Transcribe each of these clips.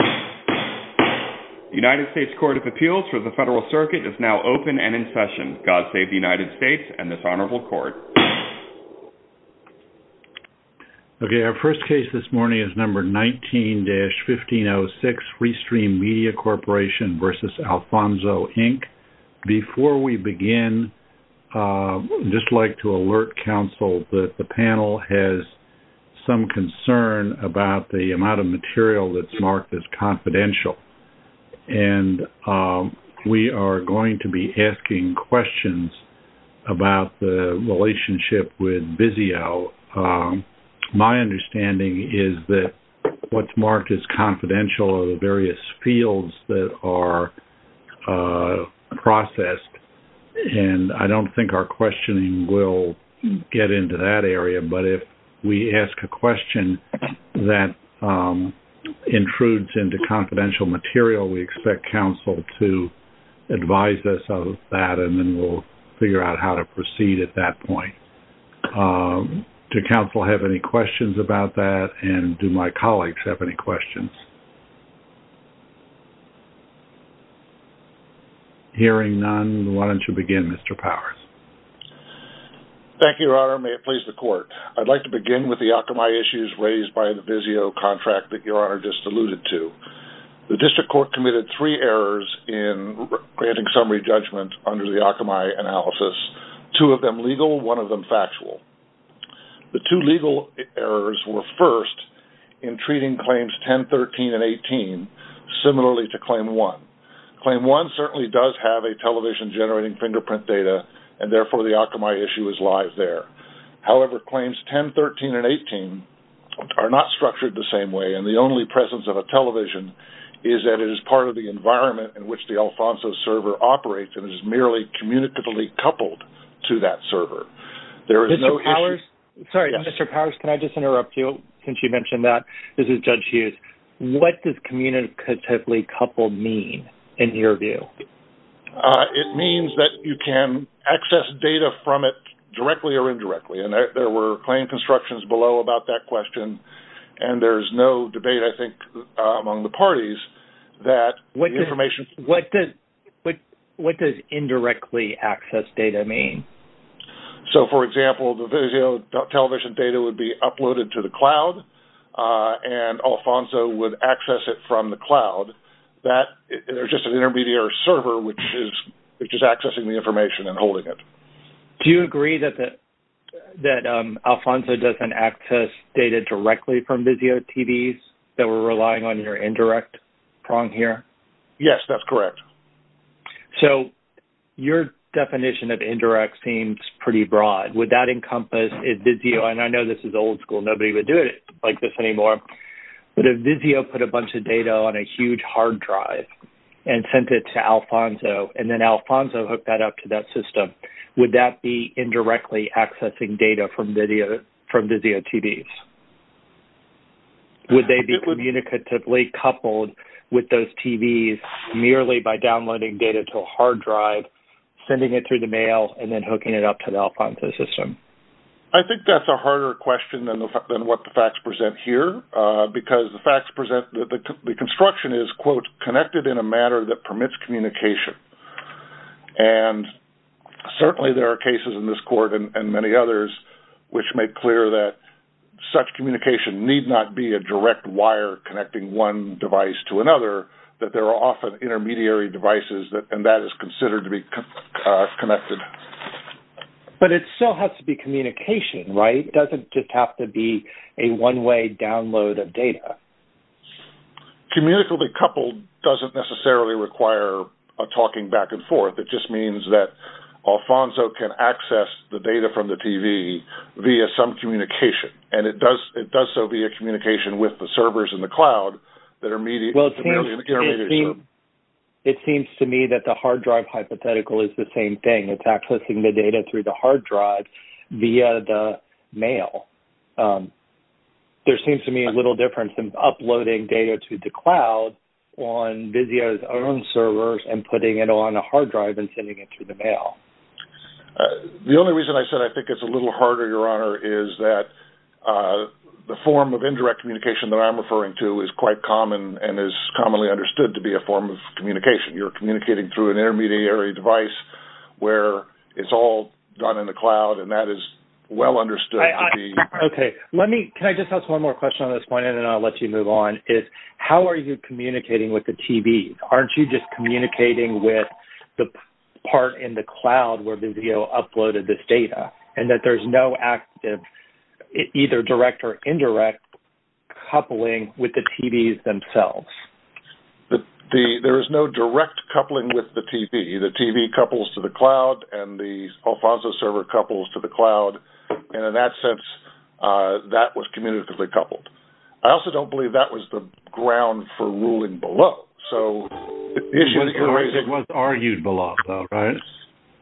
The United States Court of Appeals for the Federal Circuit is now open and in session. God save the United States and this honorable court. Okay, our first case this morning is number 19-1506, Free Stream Media Corporation v. Alphonso Inc. Before we begin, I'd just like to alert counsel that the panel has some concern about the amount of material that's marked as confidential. And we are going to be asking questions about the relationship with Vizio. My understanding is that what's marked as confidential are the various fields that are processed. And I don't think our questioning will get into that area. But if we ask a question that intrudes into confidential material, we expect counsel to advise us of that. And then we'll figure out how to proceed at that point. Do counsel have any questions about that? And do my colleagues have any questions? Hearing none, why don't you begin, Mr. Powers. Thank you, Your Honor. May it please the court. I'd like to begin with the Akamai issues raised by the Vizio contract that Your Honor just alluded to. The district court committed three errors in granting summary judgment under the Akamai analysis, two of them legal, one of them factual. The two legal errors were first in treating claims 10, 13, and 18 similarly to claim 1. Claim 1 certainly does have a television generating fingerprint data, and therefore the Akamai issue is live there. However, claims 10, 13, and 18 are not structured the same way. And the only presence of a television is that it is part of the environment in which the Alfonso server operates and is merely communicatively coupled to that server. There is no issue. Mr. Powers, can I just interrupt you since you mentioned that? This is Judge Hughes. What does communicatively coupled mean in your view? It means that you can access data from it directly or indirectly, and there were claim constructions below about that question. And there's no debate, I think, among the parties that the information What does indirectly access data mean? So, for example, the Vizio television data would be uploaded to the cloud and Alfonso would access it from the cloud. There's just an intermediary server which is accessing the information and holding it. Do you agree that Alfonso doesn't access data directly from Vizio TVs that were relying on your indirect prong here? Yes, that's correct. So your definition of indirect seems pretty broad. Would that encompass Vizio? And I know this is old school. Nobody would do it like this anymore. But if Vizio put a bunch of data on a huge hard drive and sent it to Alfonso, and then Alfonso hooked that up to that system, would that be indirectly accessing data from Vizio TVs? Would they be communicatively coupled with those TVs merely by downloading data to a hard drive, sending it through the mail, and then hooking it up to the Alfonso system? I think that's a harder question than what the facts present here, because the construction is, quote, connected in a manner that permits communication. And certainly there are cases in this court and many others which make clear that such communication need not be a direct wire connecting one device to another, that there are often intermediary devices, and that is considered to be connected. But it still has to be communication, right? It doesn't just have to be a one-way download of data. Communicatively coupled doesn't necessarily require a talking back and forth. It just means that Alfonso can access the data from the TV via some communication, and it does so via communication with the servers in the cloud that are merely intermediary. It seems to me that the hard drive hypothetical is the same thing. It's accessing the data through the hard drive via the mail. There seems to me little difference in uploading data to the cloud on Vizio's own servers and putting it on a hard drive and sending it through the mail. The only reason I said I think it's a little harder, Your Honor, is that the form of indirect communication that I'm referring to is quite common and is commonly understood to be a form of communication. You're communicating through an intermediary device where it's all done in the cloud, and that is well understood to be. Okay. Can I just ask one more question on this point, and then I'll let you move on? How are you communicating with the TV? Aren't you just communicating with the part in the cloud where Vizio uploaded this data and that there's no active either direct or indirect coupling with the TVs themselves? There is no direct coupling with the TV. The TV couples to the cloud and the Alfonso server couples to the cloud, and in that sense, that was communicatively coupled. I also don't believe that was the ground for ruling below. It was argued below, though, right?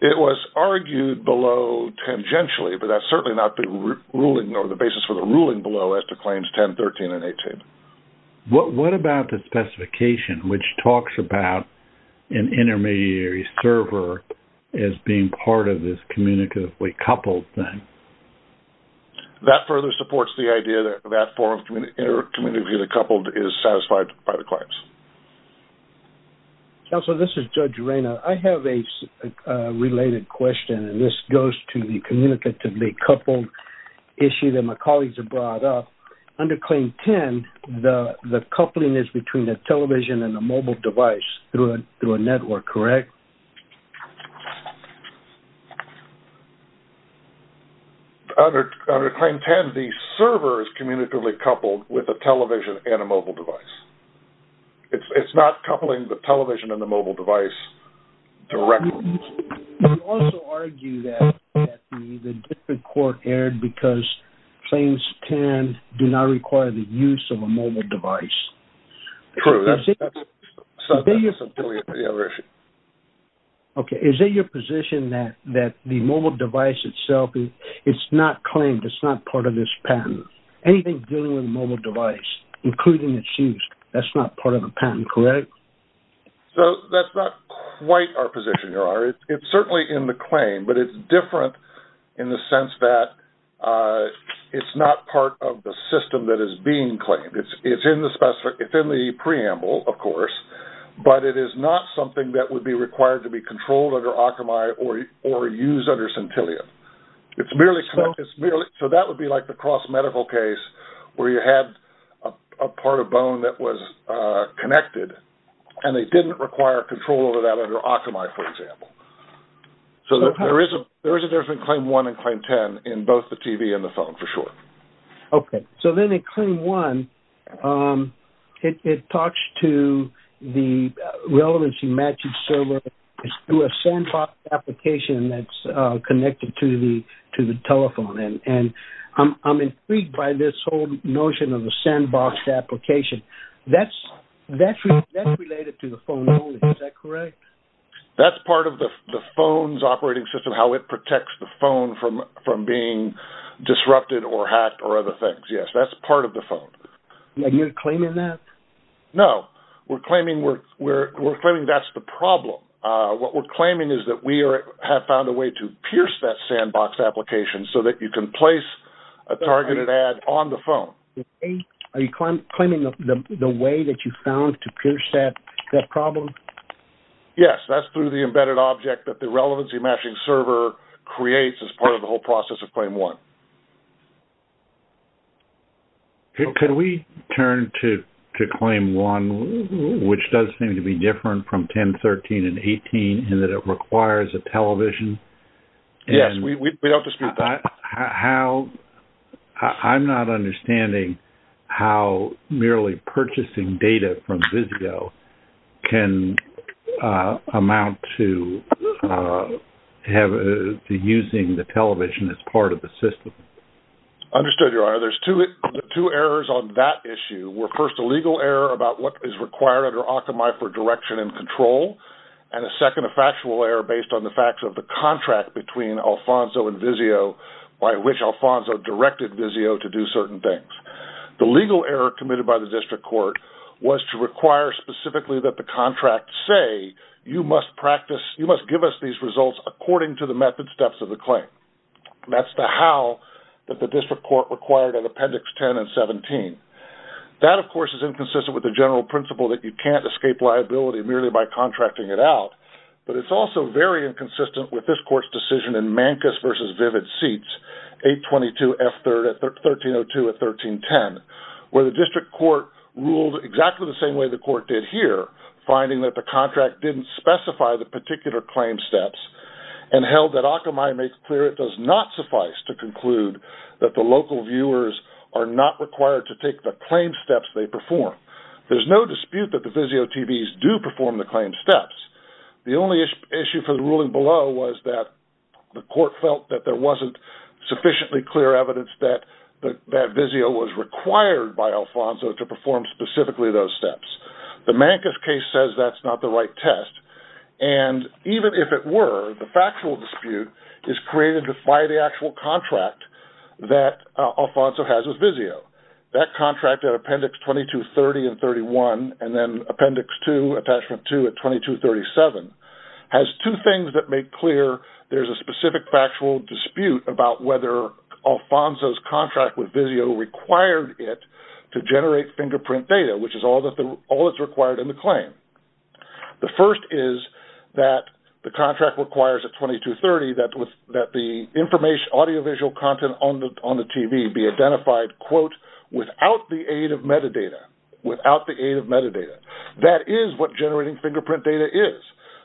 It was argued below tangentially, but that's certainly not the basis for the ruling below as to claims 10, 13, and 18. What about the specification, which talks about an intermediary server as being part of this communicatively coupled thing? That further supports the idea that that form of communication coupled is satisfied by the claims. Counselor, this is Judge Reina. I have a related question, and this goes to the communicatively coupled issue that my colleagues have brought up. Under claim 10, the coupling is between a television and a mobile device through a network, correct? Under claim 10, the server is communicatively coupled with a television and a mobile device. It's not coupling the television and the mobile device directly. You also argue that the district court erred because claims 10 do not require the use of a mobile device. True. That's a subterranean video issue. Okay. Is it your position that the mobile device itself, it's not claimed, it's not part of this patent? Anything dealing with a mobile device, including its use, that's not part of the patent, correct? That's not quite our position, Your Honor. It's certainly in the claim, but it's different in the sense that it's not part of the system that is being claimed. It's in the preamble, of course, but it is not something that would be required to be controlled under Akamai or used under Centillion. So that would be like the cross-medical case where you had a part of bone that was connected and they didn't require control over that under Akamai, for example. So there is a difference between claim 1 and claim 10 in both the TV and the phone, for sure. Okay. So then in claim 1, it talks to the relevancy matching server through a sandbox application that's connected to the telephone. And I'm intrigued by this whole notion of the sandbox application. That's related to the phone only, is that correct? That's part of the phone's operating system, how it protects the phone from being disrupted or hacked or other things. Yes, that's part of the phone. Are you claiming that? No, we're claiming that's the problem. What we're claiming is that we have found a way to pierce that sandbox application so that you can place a targeted ad on the phone. Are you claiming the way that you found to pierce that problem? Yes, that's through the embedded object that the relevancy matching server creates as part of the whole process of claim 1. Okay. Could we turn to claim 1, which does seem to be different from 10, 13, and 18, in that it requires a television? Yes, we don't dispute that. I'm not understanding how merely purchasing data from Visio can amount to using the television as part of the system. Understood, Your Honor. There's two errors on that issue. First, a legal error about what is required under Occomy for direction and control, and a second, a factual error based on the facts of the contract between Alfonso and Visio by which Alfonso directed Visio to do certain things. The legal error committed by the district court was to require specifically that the contract say, you must give us these results according to the method steps of the claim. That's the how that the district court required in Appendix 10 and 17. That, of course, is inconsistent with the general principle that you can't escape liability merely by contracting it out. But it's also very inconsistent with this court's decision in Mancus v. Vivid Seats, 822F3rd, 1302 and 1310, where the district court ruled exactly the same way the court did here, finding that the contract didn't specify the particular claim steps, and held that Occomy makes clear it does not suffice to conclude that the local viewers are not required to take the claim steps they perform. There's no dispute that the Visio TVs do perform the claim steps. The only issue for the ruling below was that the court felt that there wasn't sufficiently clear evidence that Visio was required by Alfonso to perform specifically those steps. The Mancus case says that's not the right test. And even if it were, the factual dispute is created by the actual contract that Alfonso has with Visio. That contract at Appendix 2230 and 31, and then Appendix 2, Attachment 2 at 2237, has two things that make clear there's a specific factual dispute about whether Alfonso's contract with Visio required it to generate fingerprint data, which is all that's required in the claim. The first is that the contract requires at 2230 that the audiovisual content on the TV be identified quote, without the aid of metadata, without the aid of metadata. That is what generating fingerprint data is.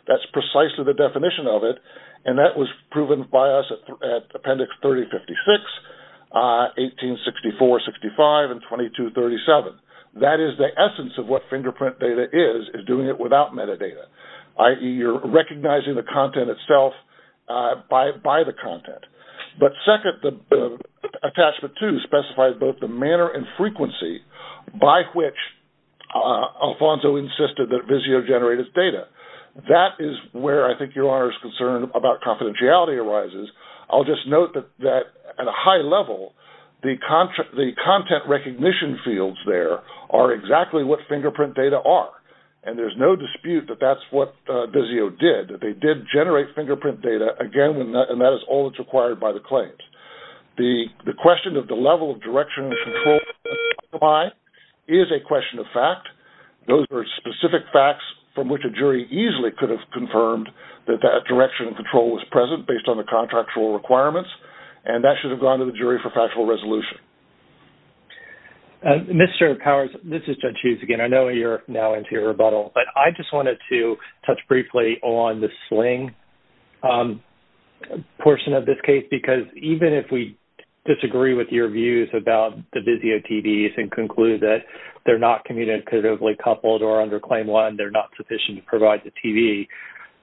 That's precisely the definition of it. And that was proven by us at Appendix 3056, 1864, 65, and 2237. That is the essence of what fingerprint data is, is doing it without metadata, i.e., you're recognizing the content itself by the content. But second, Attachment 2 specifies both the manner and frequency by which Alfonso insisted that Visio generate his data. That is where I think your Honor's concern about confidentiality arises. I'll just note that at a high level, the content recognition fields there are exactly what fingerprint data are, and there's no dispute that that's what Visio did. They did generate fingerprint data, again, and that is all that's required by the claims. The question of the level of direction and control is a question of fact. Those are specific facts from which a jury easily could have confirmed that that direction and control was present based on the contractual requirements, and that should have gone to the jury for factual resolution. Mr. Powers, this is Judge Hughes again. I know you're now into your rebuttal, but I just wanted to touch briefly on the Sling portion of this case because even if we disagree with your views about the Visio TVs and conclude that they're not communicatively coupled or under Claim 1, they're not sufficient to provide the TV,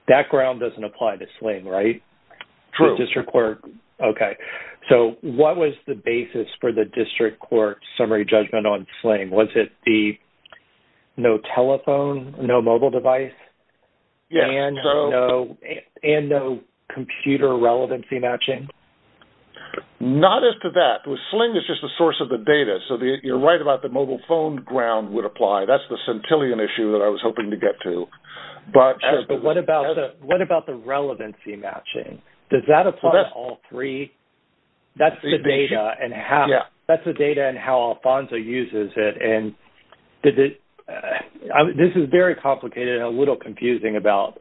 that ground doesn't apply to Sling, right? True. Okay. So what was the basis for the District Court's summary judgment on Sling? Was it the no telephone, no mobile device, and no computer relevancy matching? Not as to that. Sling is just the source of the data, so you're right about the mobile phone ground would apply. That's the centillion issue that I was hoping to get to. But what about the relevancy matching? Does that apply to all three? That's the data and how Alfonso uses it, and this is very complicated and a little confusing about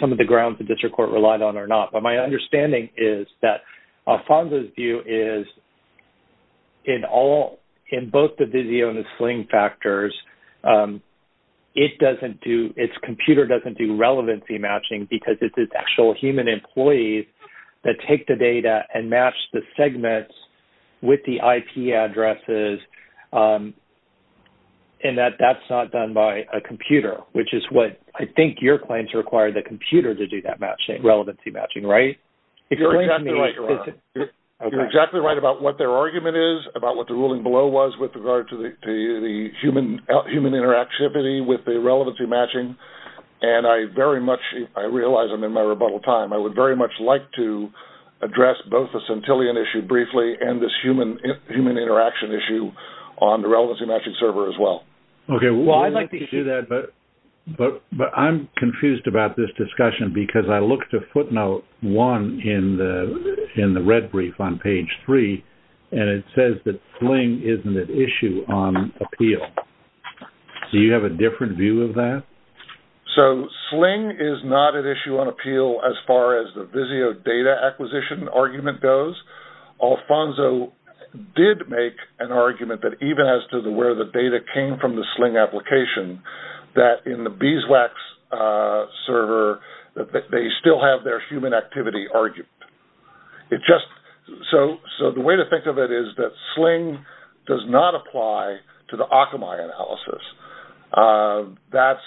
some of the grounds the District Court relied on or not, but my understanding is that Alfonso's view is in both the Visio and the Sling factors, its computer doesn't do relevancy matching because it's its actual human employees that take the data and match the segments with the IP addresses and that that's not done by a computer, which is what I think your claims require the computer to do that matching, relevancy matching, right? You're exactly right about what their argument is, about what the ruling below was with regard to the human interactivity with the relevancy matching, and I realize I'm in my rebuttal time. I would very much like to address both the centillion issue briefly and this human interaction issue on the relevancy matching server as well. Okay, well, I'd like to do that, but I'm confused about this discussion because I looked at footnote one in the red brief on page three, and it says that Sling isn't an issue on appeal. Do you have a different view of that? So Sling is not an issue on appeal as far as the Visio data acquisition argument goes. Alfonso did make an argument that even as to where the data came from the Sling application, that in the Biswax server that they still have their human activity argument. So the way to think of it is that Sling does not apply to the Akamai analysis, but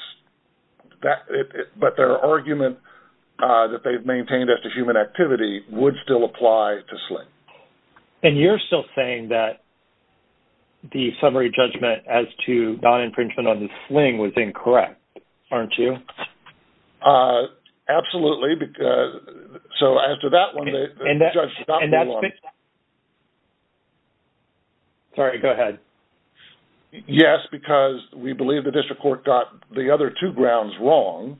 their argument that they've maintained as to human activity would still apply to Sling. And you're still saying that the summary judgment as to non-infringement on the Sling was incorrect, aren't you? Absolutely. So after that one, the judge stopped me. Sorry, go ahead. Yes, because we believe the district court got the other two grounds wrong,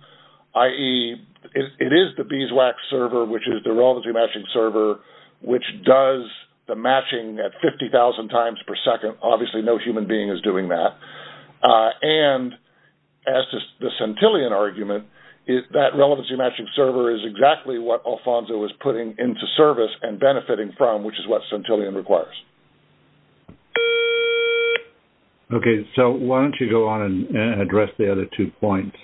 i.e., it is the Biswax server, which is the relevancy matching server, which does the matching at 50,000 times per second. Obviously no human being is doing that. And as to the Centillion argument, that relevancy matching server is exactly what Alfonso was putting into service and benefiting from, which is what Centillion requires. Okay. So why don't you go on and address the other two points,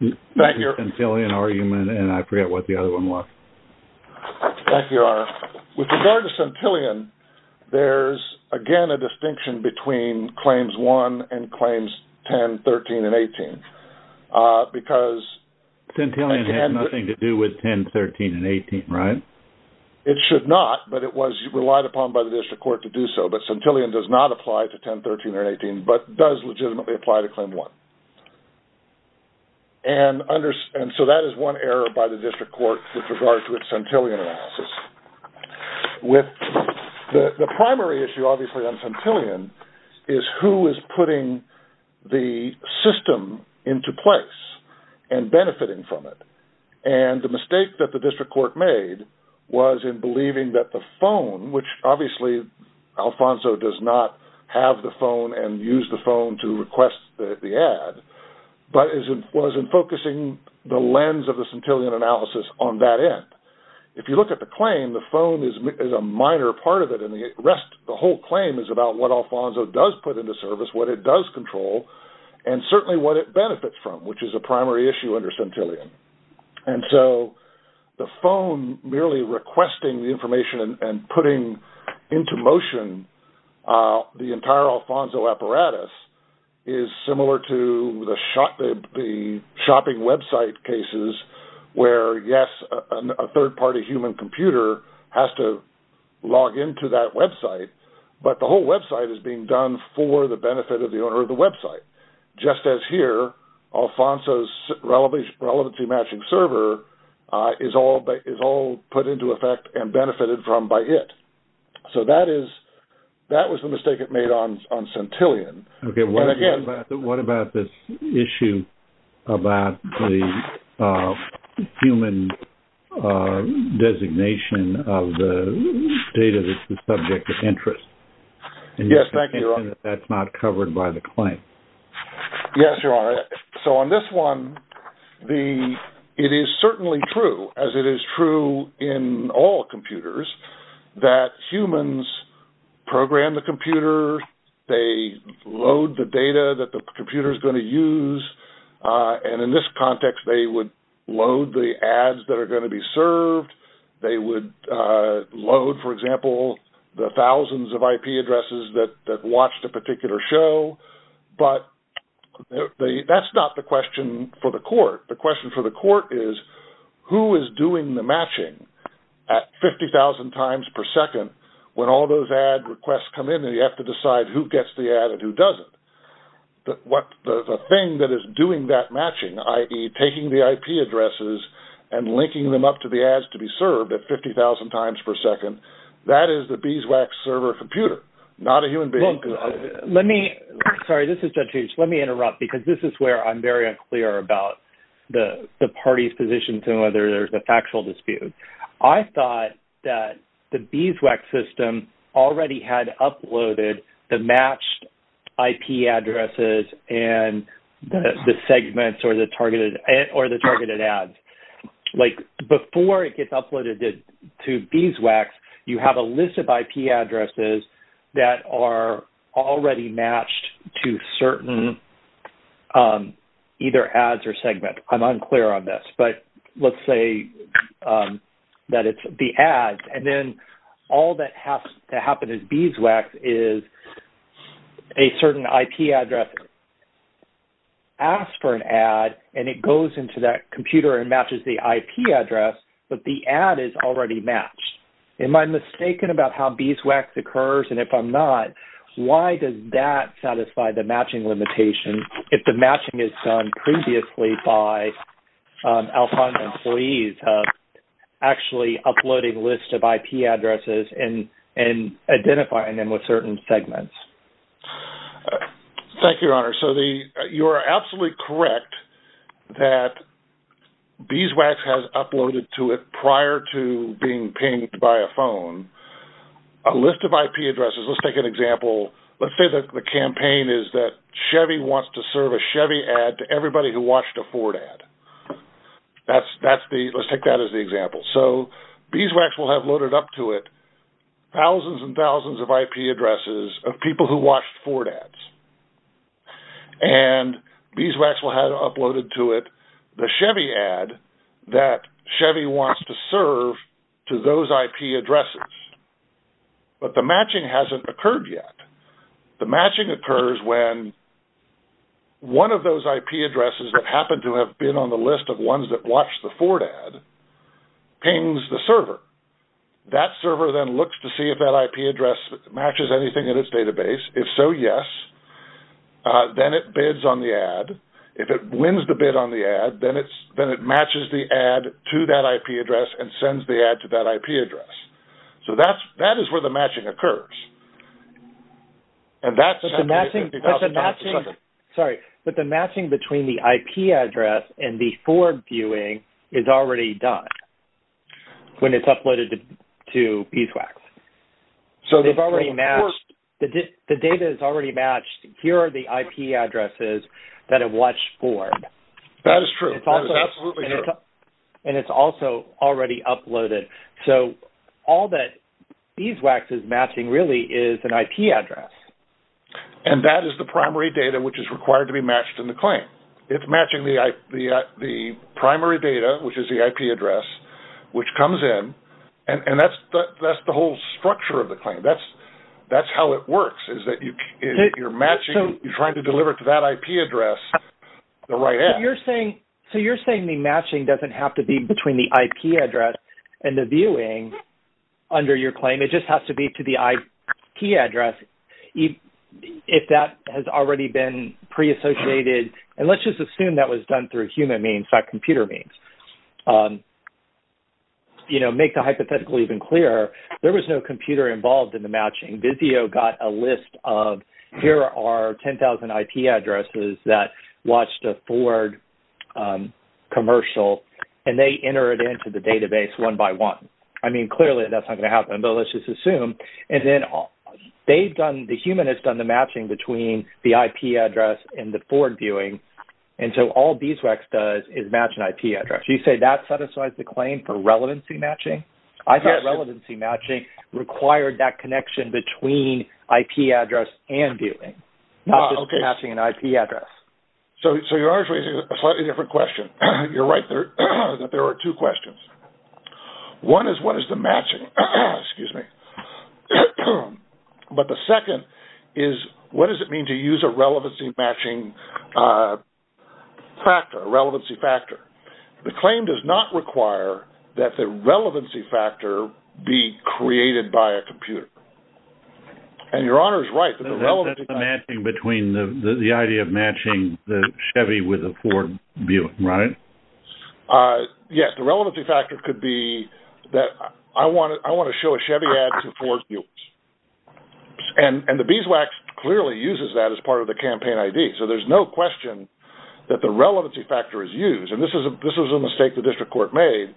the Centillion argument, and I forget what the other one was. Thank you, Your Honor. With regard to Centillion, there's, again, a distinction between Claims 1 and Claims 10, 13, and 18, because... Centillion has nothing to do with 10, 13, and 18, right? It should not, but it was relied upon by the district court to do so. But Centillion does not apply to 10, 13, or 18, but does legitimately apply to Claim 1. And so that is one error by the district court with regard to its Centillion analysis. The primary issue, obviously, on Centillion is who is putting the system into place and benefiting from it. And the mistake that the district court made was in believing that the phone, which obviously Alfonso does not have the phone and use the phone to request the ad, but was in focusing the lens of the Centillion analysis on that end. If you look at the claim, the phone is a minor part of it, and the rest, the whole claim is about what Alfonso does put into service, what it does control, and certainly what it benefits from, which is a primary issue under Centillion. And so the phone merely requesting the information and putting into motion the entire Alfonso apparatus is similar to the shopping website cases where, yes, a third-party human computer has to log into that website, but the whole website is being done for the benefit of the owner of the website. Just as here, Alfonso's relevancy-matching server is all put into effect and benefited from by it. So that was the mistake it made on Centillion. Okay, what about this issue about the human designation of the data that's the subject of interest? Yes, thank you, Your Honor. That's not covered by the claim. Yes, Your Honor. So on this one, it is certainly true, as it is true in all computers, that humans program the computer. They load the data that the computer is going to use. And in this context, they would load the ads that are going to be served. They would load, for example, the thousands of IP addresses that watch the particular show. But that's not the question for the court. The question for the court is who is doing the matching at 50,000 times per second when all those ad requests come in and you have to decide who gets the ad and who doesn't. The thing that is doing that matching, i.e., taking the IP addresses and linking them up to the ads to be served at 50,000 times per second, that is the BSWAC server computer, not a human being. Sorry, this is Judge H. Let me interrupt because this is where I'm very unclear about the parties' positions and whether there's a factual dispute. I thought that the BSWAC system already had uploaded the matched IP addresses and the segments or the targeted ads. Before it gets uploaded to BSWACs, you have a list of IP addresses that are already matched to certain either ads or segments. I'm unclear on this, but let's say that it's the ads, and then all that has to happen is BSWACs is a certain IP address asks for an ad and it goes into that computer and matches the IP address, but the ad is already matched. Am I mistaken about how BSWACs occurs? If I'm not, why does that satisfy the matching limitation if the matching is done previously by Alpine employees actually uploading lists of IP addresses and identifying them with certain segments? Thank you, Your Honor. You are absolutely correct that BSWACs has uploaded to it prior to being pinged by a phone a list of IP addresses. Let's take an example. Let's say that the campaign is that Chevy wants to serve a Chevy ad to everybody who watched a Ford ad. Let's take that as the example. So BSWACs will have loaded up to it thousands and thousands of IP addresses of people who watched Ford ads, and BSWACs will have uploaded to it the Chevy ad that Chevy wants to serve to those IP addresses, but the matching hasn't occurred yet. The matching occurs when one of those IP addresses that happen to have been on the list of ones that watched the Ford ad pings the server. That server then looks to see if that IP address matches anything in its database. If so, yes. Then it bids on the ad. If it wins the bid on the ad, then it matches the ad to that IP address and sends the ad to that IP address. So that is where the matching occurs. But the matching between the IP address and the Ford viewing is already done when it's uploaded to BSWACs. The data is already matched. Here are the IP addresses that have watched Ford. That is true. That is absolutely true. And it's also already uploaded. So all that BSWACs is matching really is an IP address. And that is the primary data which is required to be matched in the claim. It's matching the primary data, which is the IP address, which comes in, and that's the whole structure of the claim. That's how it works is that you're matching, you're trying to deliver it to that IP address, the right ad. So you're saying the matching doesn't have to be between the IP address and the viewing under your claim. It just has to be to the IP address if that has already been pre-associated. And let's just assume that was done through human means, by computer means. You know, make the hypothetical even clearer. There was no computer involved in the matching. Visio got a list of here are 10,000 IP addresses that watched a Ford commercial, and they entered it into the database one by one. I mean, clearly that's not going to happen, but let's just assume. And then they've done, the human has done the matching between the IP address and the Ford viewing, and so all D2X does is match an IP address. You say that satisfies the claim for relevancy matching? I thought relevancy matching required that connection between IP address and viewing, not just matching an IP address. So you are raising a slightly different question. You're right that there are two questions. One is what is the matching? Excuse me. But the second is what does it mean to use a relevancy matching factor, a relevancy factor? The claim does not require that the relevancy factor be created by a computer. And Your Honor is right. That's the matching between the idea of matching the Chevy with a Ford viewing, right? Yes, the relevancy factor could be that I want to show a Chevy ad to Ford views. And the beeswax clearly uses that as part of the campaign ID, so there's no question that the relevancy factor is used. And this was a mistake the district court made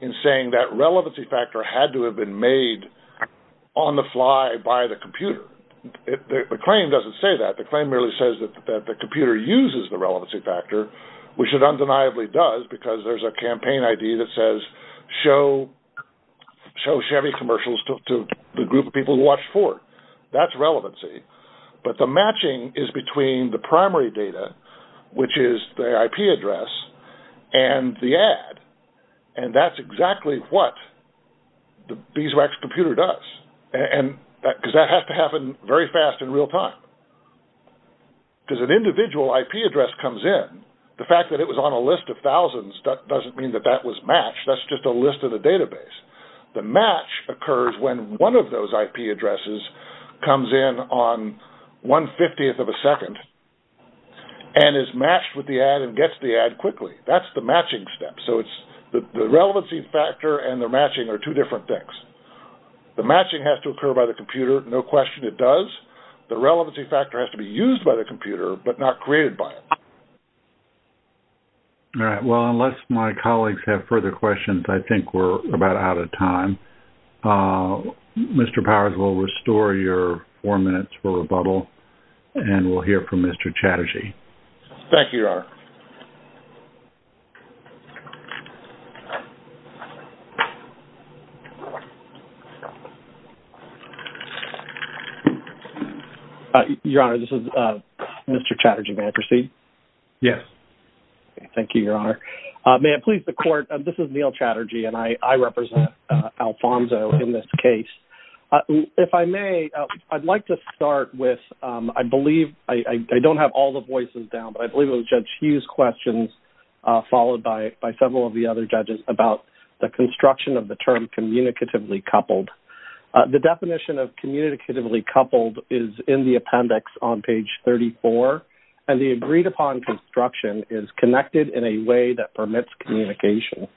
in saying that relevancy factor had to have been made on the fly by the computer. The claim doesn't say that. The claim merely says that the computer uses the relevancy factor. Which it undeniably does because there's a campaign ID that says show Chevy commercials to the group of people who watch Ford. That's relevancy. But the matching is between the primary data, which is the IP address, and the ad. And that's exactly what the beeswax computer does. Because that has to happen very fast in real time. Because an individual IP address comes in, the fact that it was on a list of thousands doesn't mean that that was matched. That's just a list of the database. The match occurs when one of those IP addresses comes in on 150th of a second and is matched with the ad and gets the ad quickly. That's the matching step. So the relevancy factor and the matching are two different things. The matching has to occur by the computer. No question it does. The relevancy factor has to be used by the computer but not created by it. All right. Well, unless my colleagues have further questions, I think we're about out of time. Mr. Powers, we'll restore your four minutes for rebuttal, and we'll hear from Mr. Chatterjee. Thank you, Your Honor. Your Honor, this is Mr. Chatterjee. May I proceed? Yes. Thank you, Your Honor. May it please the Court, this is Neil Chatterjee, and I represent Alfonzo in this case. If I may, I'd like to start with, I believe, I don't have all the voices down, but I believe it was Judge Hughes' questions, followed by several of the other judges, about the construction of the term communicatively coupled. The definition of communicatively coupled is in the appendix on page 34, and the agreed-upon construction is connected in a way that permits communication.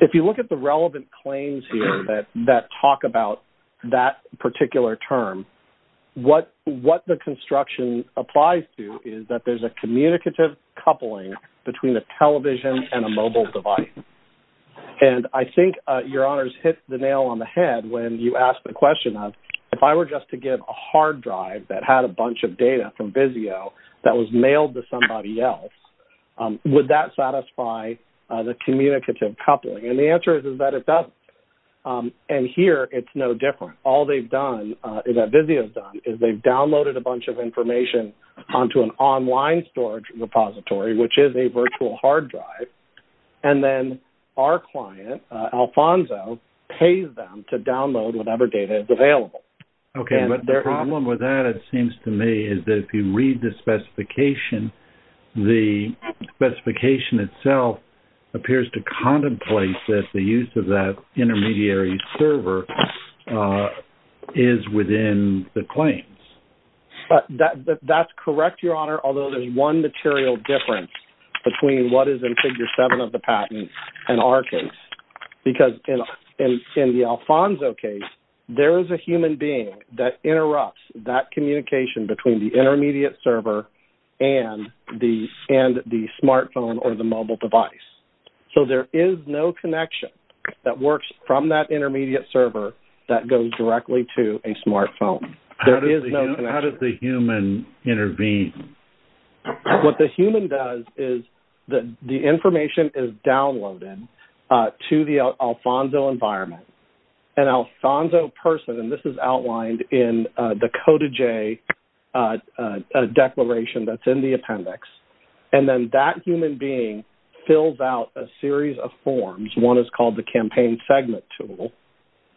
If you look at the relevant claims here that talk about that particular term, what the construction applies to is that there's a communicative coupling between a television and a mobile device. And I think, Your Honors, hit the nail on the head when you asked the question of, if I were just to give a hard drive that had a bunch of data from Vizio that was mailed to somebody else, would that satisfy the communicative coupling? And the answer is that it doesn't. And here, it's no different. All they've done, that Vizio's done, is they've downloaded a bunch of information onto an online storage repository, which is a virtual hard drive, and then our client, Alfonso, pays them to download whatever data is available. Okay, but the problem with that, it seems to me, is that if you read the specification, the specification itself appears to contemplate that the use of that intermediary server is within the claims. That's correct, Your Honor, although there's one material difference between what is in Figure 7 of the patent and our case. Because in the Alfonso case, there is a human being that interrupts that communication between the intermediate server and the smartphone or the mobile device. So there is no connection that works from that intermediate server that goes directly to a smartphone. There is no connection. How does the human intervene? What the human does is the information is downloaded to the Alfonso environment. An Alfonso person, and this is outlined in the Coda J declaration that's in the appendix, and then that human being fills out a series of forms. One is called the campaign segment tool.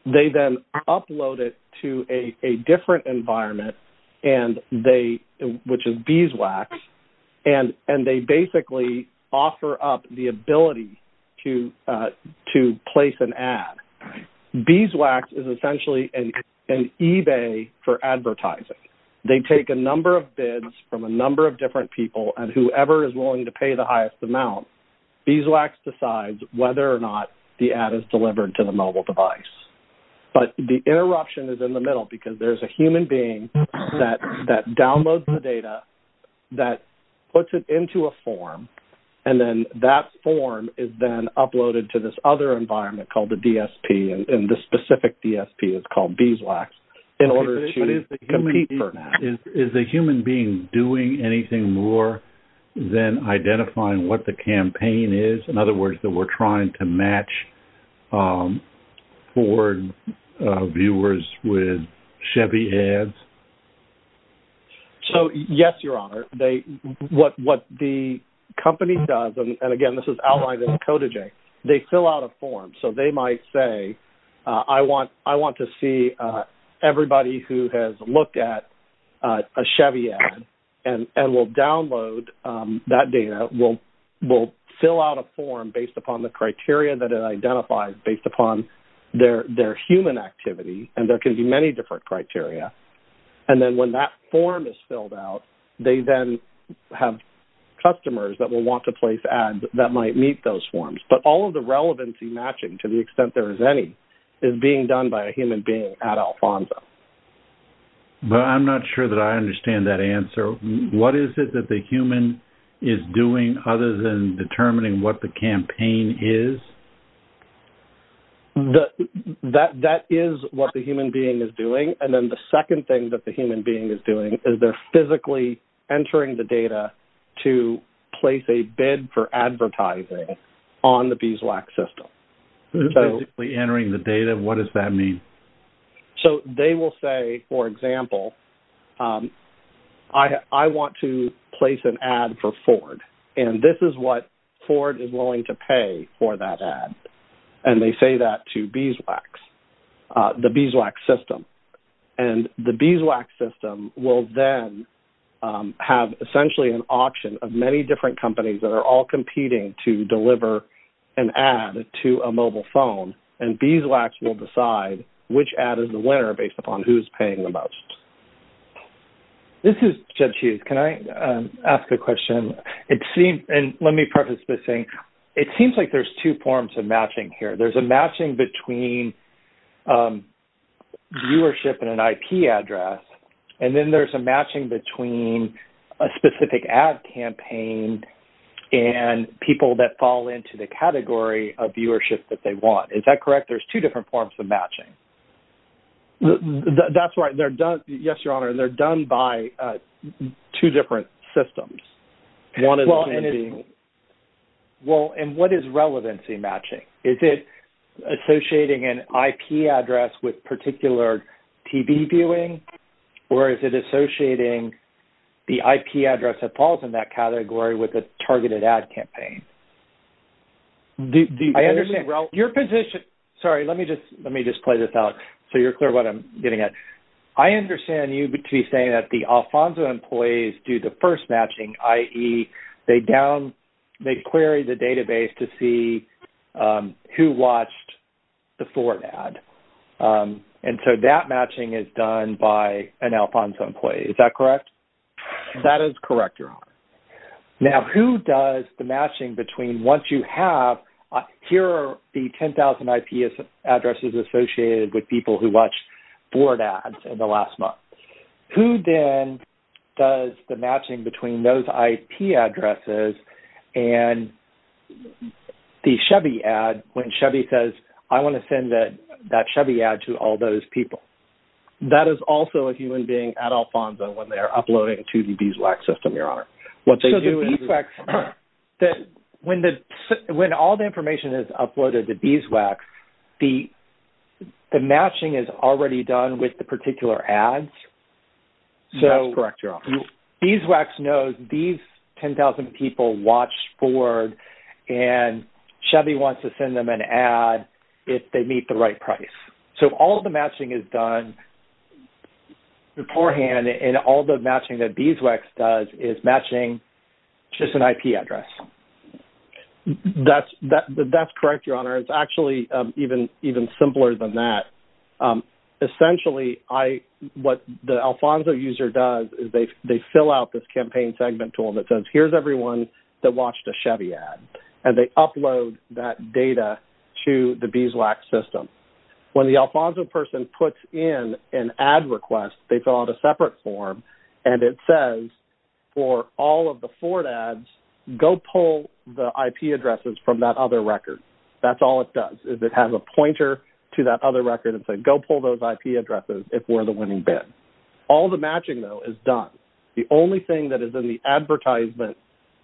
They then upload it to a different environment, which is Beeswax, and they basically offer up the ability to place an ad. Beeswax is essentially an eBay for advertising. They take a number of bids from a number of different people, and whoever is willing to pay the highest amount, Beeswax decides whether or not the ad is delivered to the mobile device. But the interruption is in the middle because there is a human being that downloads the data, that puts it into a form, and then that form is then uploaded to this other environment called the DSP, and this specific DSP is called Beeswax in order to compete for that. Is the human being doing anything more than identifying what the campaign is? In other words, that we're trying to match Ford viewers with Chevy ads? Yes, Your Honor. What the company does, and again, this is outlined in the Coda J, they fill out a form. So they might say, I want to see everybody who has looked at a Chevy ad, and we'll download that data. We'll fill out a form based upon the criteria that it identifies based upon their human activity, and there can be many different criteria, and then when that form is filled out, they then have customers that will want to place ads that might meet those forms. But all of the relevancy matching, to the extent there is any, is being done by a human being at Alfonso. But I'm not sure that I understand that answer. What is it that the human is doing other than determining what the campaign is? That is what the human being is doing, and then the second thing that the human being is doing is they're physically entering the data to place a bid for advertising on the Beeswax system. Physically entering the data, what does that mean? So they will say, for example, I want to place an ad for Ford, and this is what Ford is willing to pay for that ad. And they say that to Beeswax, the Beeswax system. And the Beeswax system will then have essentially an auction of many different companies that are all competing to deliver an ad to a mobile phone, and Beeswax will decide which ad is the winner based upon who is paying the most. This is Jed Hughes. Can I ask a question? Let me preface by saying it seems like there's two forms of matching here. There's a matching between viewership and an IP address, and then there's a matching between a specific ad campaign and people that fall into the category of viewership that they want. Is that correct? There's two different forms of matching. That's right. Yes, Your Honor, they're done by two different systems. Well, and what is relevancy matching? Is it associating an IP address with particular TV viewing, or is it associating the IP address that falls in that category with a targeted ad campaign? I understand your position. Sorry, let me just play this out so you're clear what I'm getting at. I understand you to be saying that the Alfonso employees do the first matching, i.e., they query the database to see who watched the Ford ad, and so that matching is done by an Alfonso employee. Is that correct? That is correct, Your Honor. Now, who does the matching between once you have, here are the 10,000 IP addresses associated with people who watched Ford ads in the last month. Who then does the matching between those IP addresses and the Chevy ad when Chevy says, I want to send that Chevy ad to all those people? That is also a human being at Alfonso when they're uploading to the Beeswax system, Your Honor. So the Beeswax, when all the information is uploaded to Beeswax, the matching is already done with the particular ads? That's correct, Your Honor. So Beeswax knows these 10,000 people watched Ford, and Chevy wants to send them an ad if they meet the right price. So all the matching is done beforehand, and all the matching that Beeswax does is matching just an IP address. That's correct, Your Honor. It's actually even simpler than that. Essentially, what the Alfonso user does is they fill out this campaign segment tool that says, here's everyone that watched a Chevy ad, and they upload that data to the Beeswax system. When the Alfonso person puts in an ad request, they fill out a separate form, and it says for all of the Ford ads, go pull the IP addresses from that other record. That's all it does is it has a pointer to that other record and says, go pull those IP addresses if we're the winning bid. All the matching, though, is done. The only thing that is in the advertisement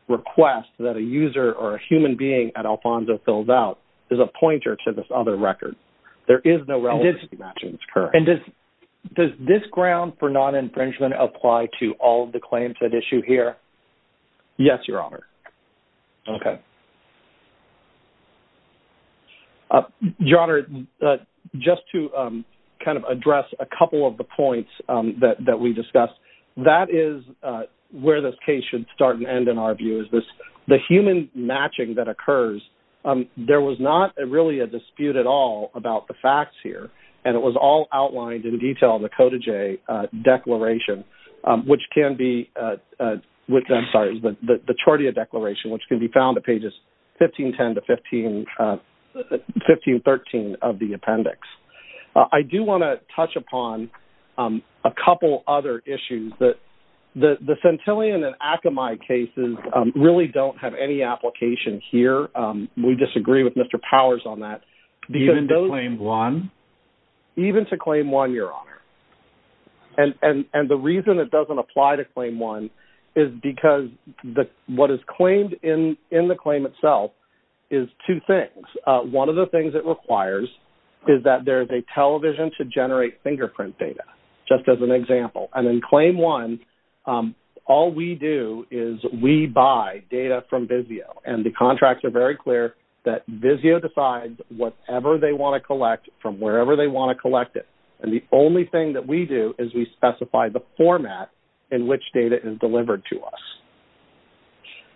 request that a user or a human being at Alfonso fills out is a pointer to this other record. There is no relevant matching. And does this ground for non-infringement apply to all of the claims at issue here? Yes, Your Honor. Okay. Your Honor, just to kind of address a couple of the points that we discussed, that is where this case should start and end, in our view, is the human matching that occurs. There was not really a dispute at all about the facts here, and it was all outlined in detail in the Cota J Declaration, which can be the Chordia Declaration, which can be found at pages 1510 to 1513 of the appendix. I do want to touch upon a couple other issues. The Centillion and Akamai cases really don't have any application here. We disagree with Mr. Powers on that. Even to Claim 1? Even to Claim 1, Your Honor. And the reason it doesn't apply to Claim 1 is because what is claimed in the claim itself is two things. One of the things it requires is that there is a television to generate fingerprint data, just as an example. And in Claim 1, all we do is we buy data from Visio, and the contracts are very clear that Visio decides whatever they want to collect from wherever they want to collect it. And the only thing that we do is we specify the format in which data is delivered to us.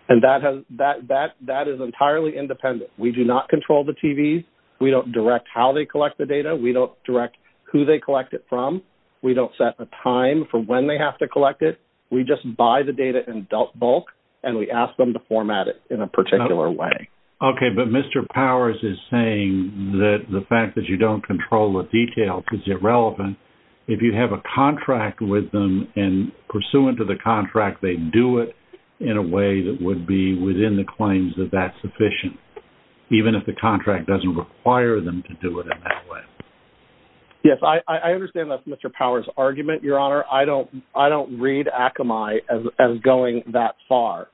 And that is entirely independent. We do not control the TVs. We don't direct how they collect the data. We don't direct who they collect it from. We don't set a time for when they have to collect it. We just buy the data in bulk, and we ask them to format it in a particular way. Okay. But Mr. Powers is saying that the fact that you don't control the detail is irrelevant. If you have a contract with them, and pursuant to the contract, they do it in a way that would be within the claims that that's sufficient, even if the contract doesn't require them to do it in that way. Yes, I understand that's Mr. Powers' argument, Your Honor. I don't read Akamai as going that far,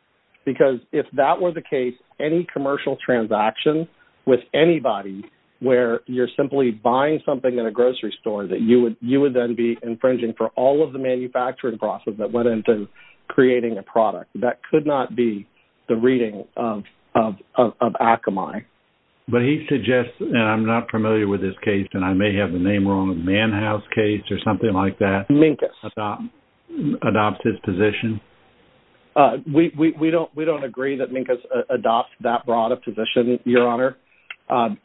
because if that were the case, any commercial transaction with anybody where you're simply buying something in a grocery store that you would then be infringing for all of the manufacturing process that went into creating a product, that could not be the reading of Akamai. Okay. But he suggests, and I'm not familiar with his case, and I may have the name wrong, Manhouse case or something like that. Minkus. Adopts his position. We don't agree that Minkus adopts that broad a position, Your Honor.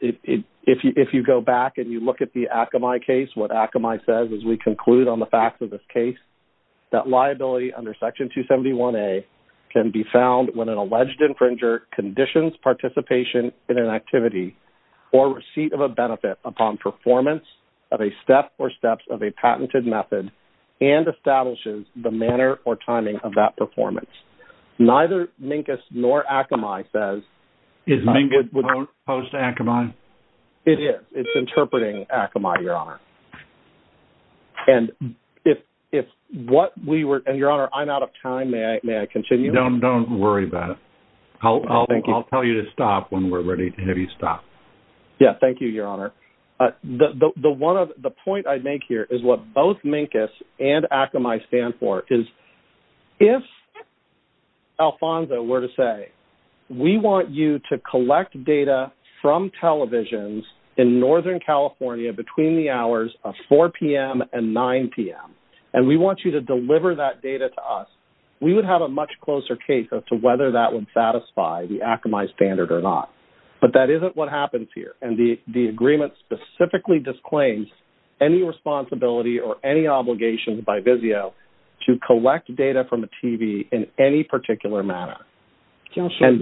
If you go back and you look at the Akamai case, what Akamai says is we conclude on the facts of this case that liability under Section 271A can be found when an alleged infringer conditions participation in an activity or receipt of a benefit upon performance of a step or steps of a patented method and establishes the manner or timing of that performance. Neither Minkus nor Akamai says. Is Minkus opposed to Akamai? It is. It's interpreting Akamai, Your Honor. And Your Honor, I'm out of time. May I continue? Don't worry about it. I'll tell you to stop when we're ready to have you stop. Yeah, thank you, Your Honor. The point I make here is what both Minkus and Akamai stand for, is if Alfonso were to say we want you to collect data from televisions in northern California between the hours of 4 p.m. and 9 p.m. and we want you to deliver that data to us, we would have a much closer case as to whether that would satisfy the Akamai standard or not. But that isn't what happens here. And the agreement specifically disclaims any responsibility or any obligation by VIZIO to collect data from a TV in any particular manner. Counsel,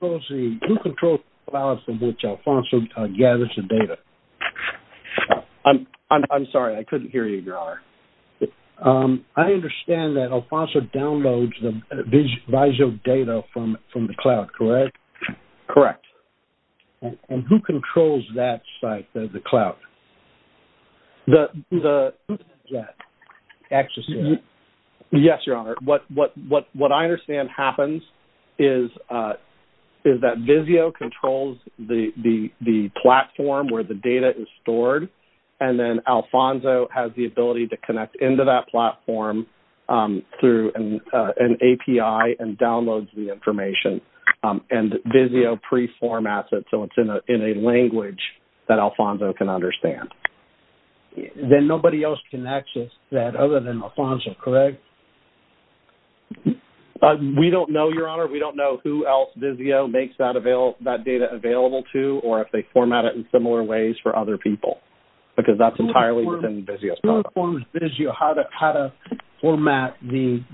who controls the hours in which Alfonso gathers the data? I'm sorry, I couldn't hear you, Your Honor. I understand that Alfonso downloads the VIZIO data from the cloud, correct? Correct. And who controls that site, the cloud? Who has access to that? Yes, Your Honor. What I understand happens is that VIZIO controls the platform where the data is stored, and then Alfonso has the ability to connect into that platform through an API and downloads the information, and VIZIO preformats it so it's in a language that Alfonso can understand. Then nobody else can access that other than Alfonso, correct? We don't know, Your Honor. We don't know who else VIZIO makes that data available to or if they format it in similar ways for other people, because that's entirely within VIZIO's control. Who informs VIZIO how to format the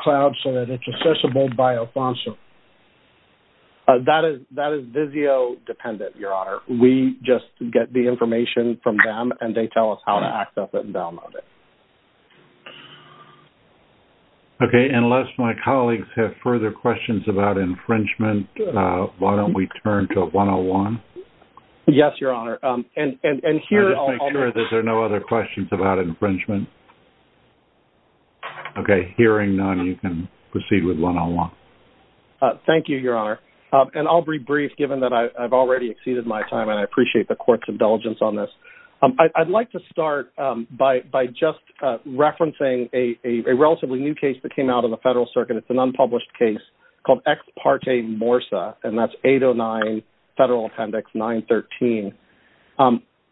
cloud so that it's accessible by Alfonso? That is VIZIO dependent, Your Honor. We just get the information from them, and they tell us how to access it and download it. Okay, unless my colleagues have further questions about infringement, why don't we turn to 101? Yes, Your Honor. I'll just make sure that there are no other questions about infringement. Okay, hearing none, you can proceed with 101. Thank you, Your Honor. I'll be brief, given that I've already exceeded my time, and I appreciate the Court's indulgence on this. I'd like to start by just referencing a relatively new case that came out of the Federal Circuit. It's an unpublished case called Ex Parte Morsa, and that's 809 Federal Appendix 913.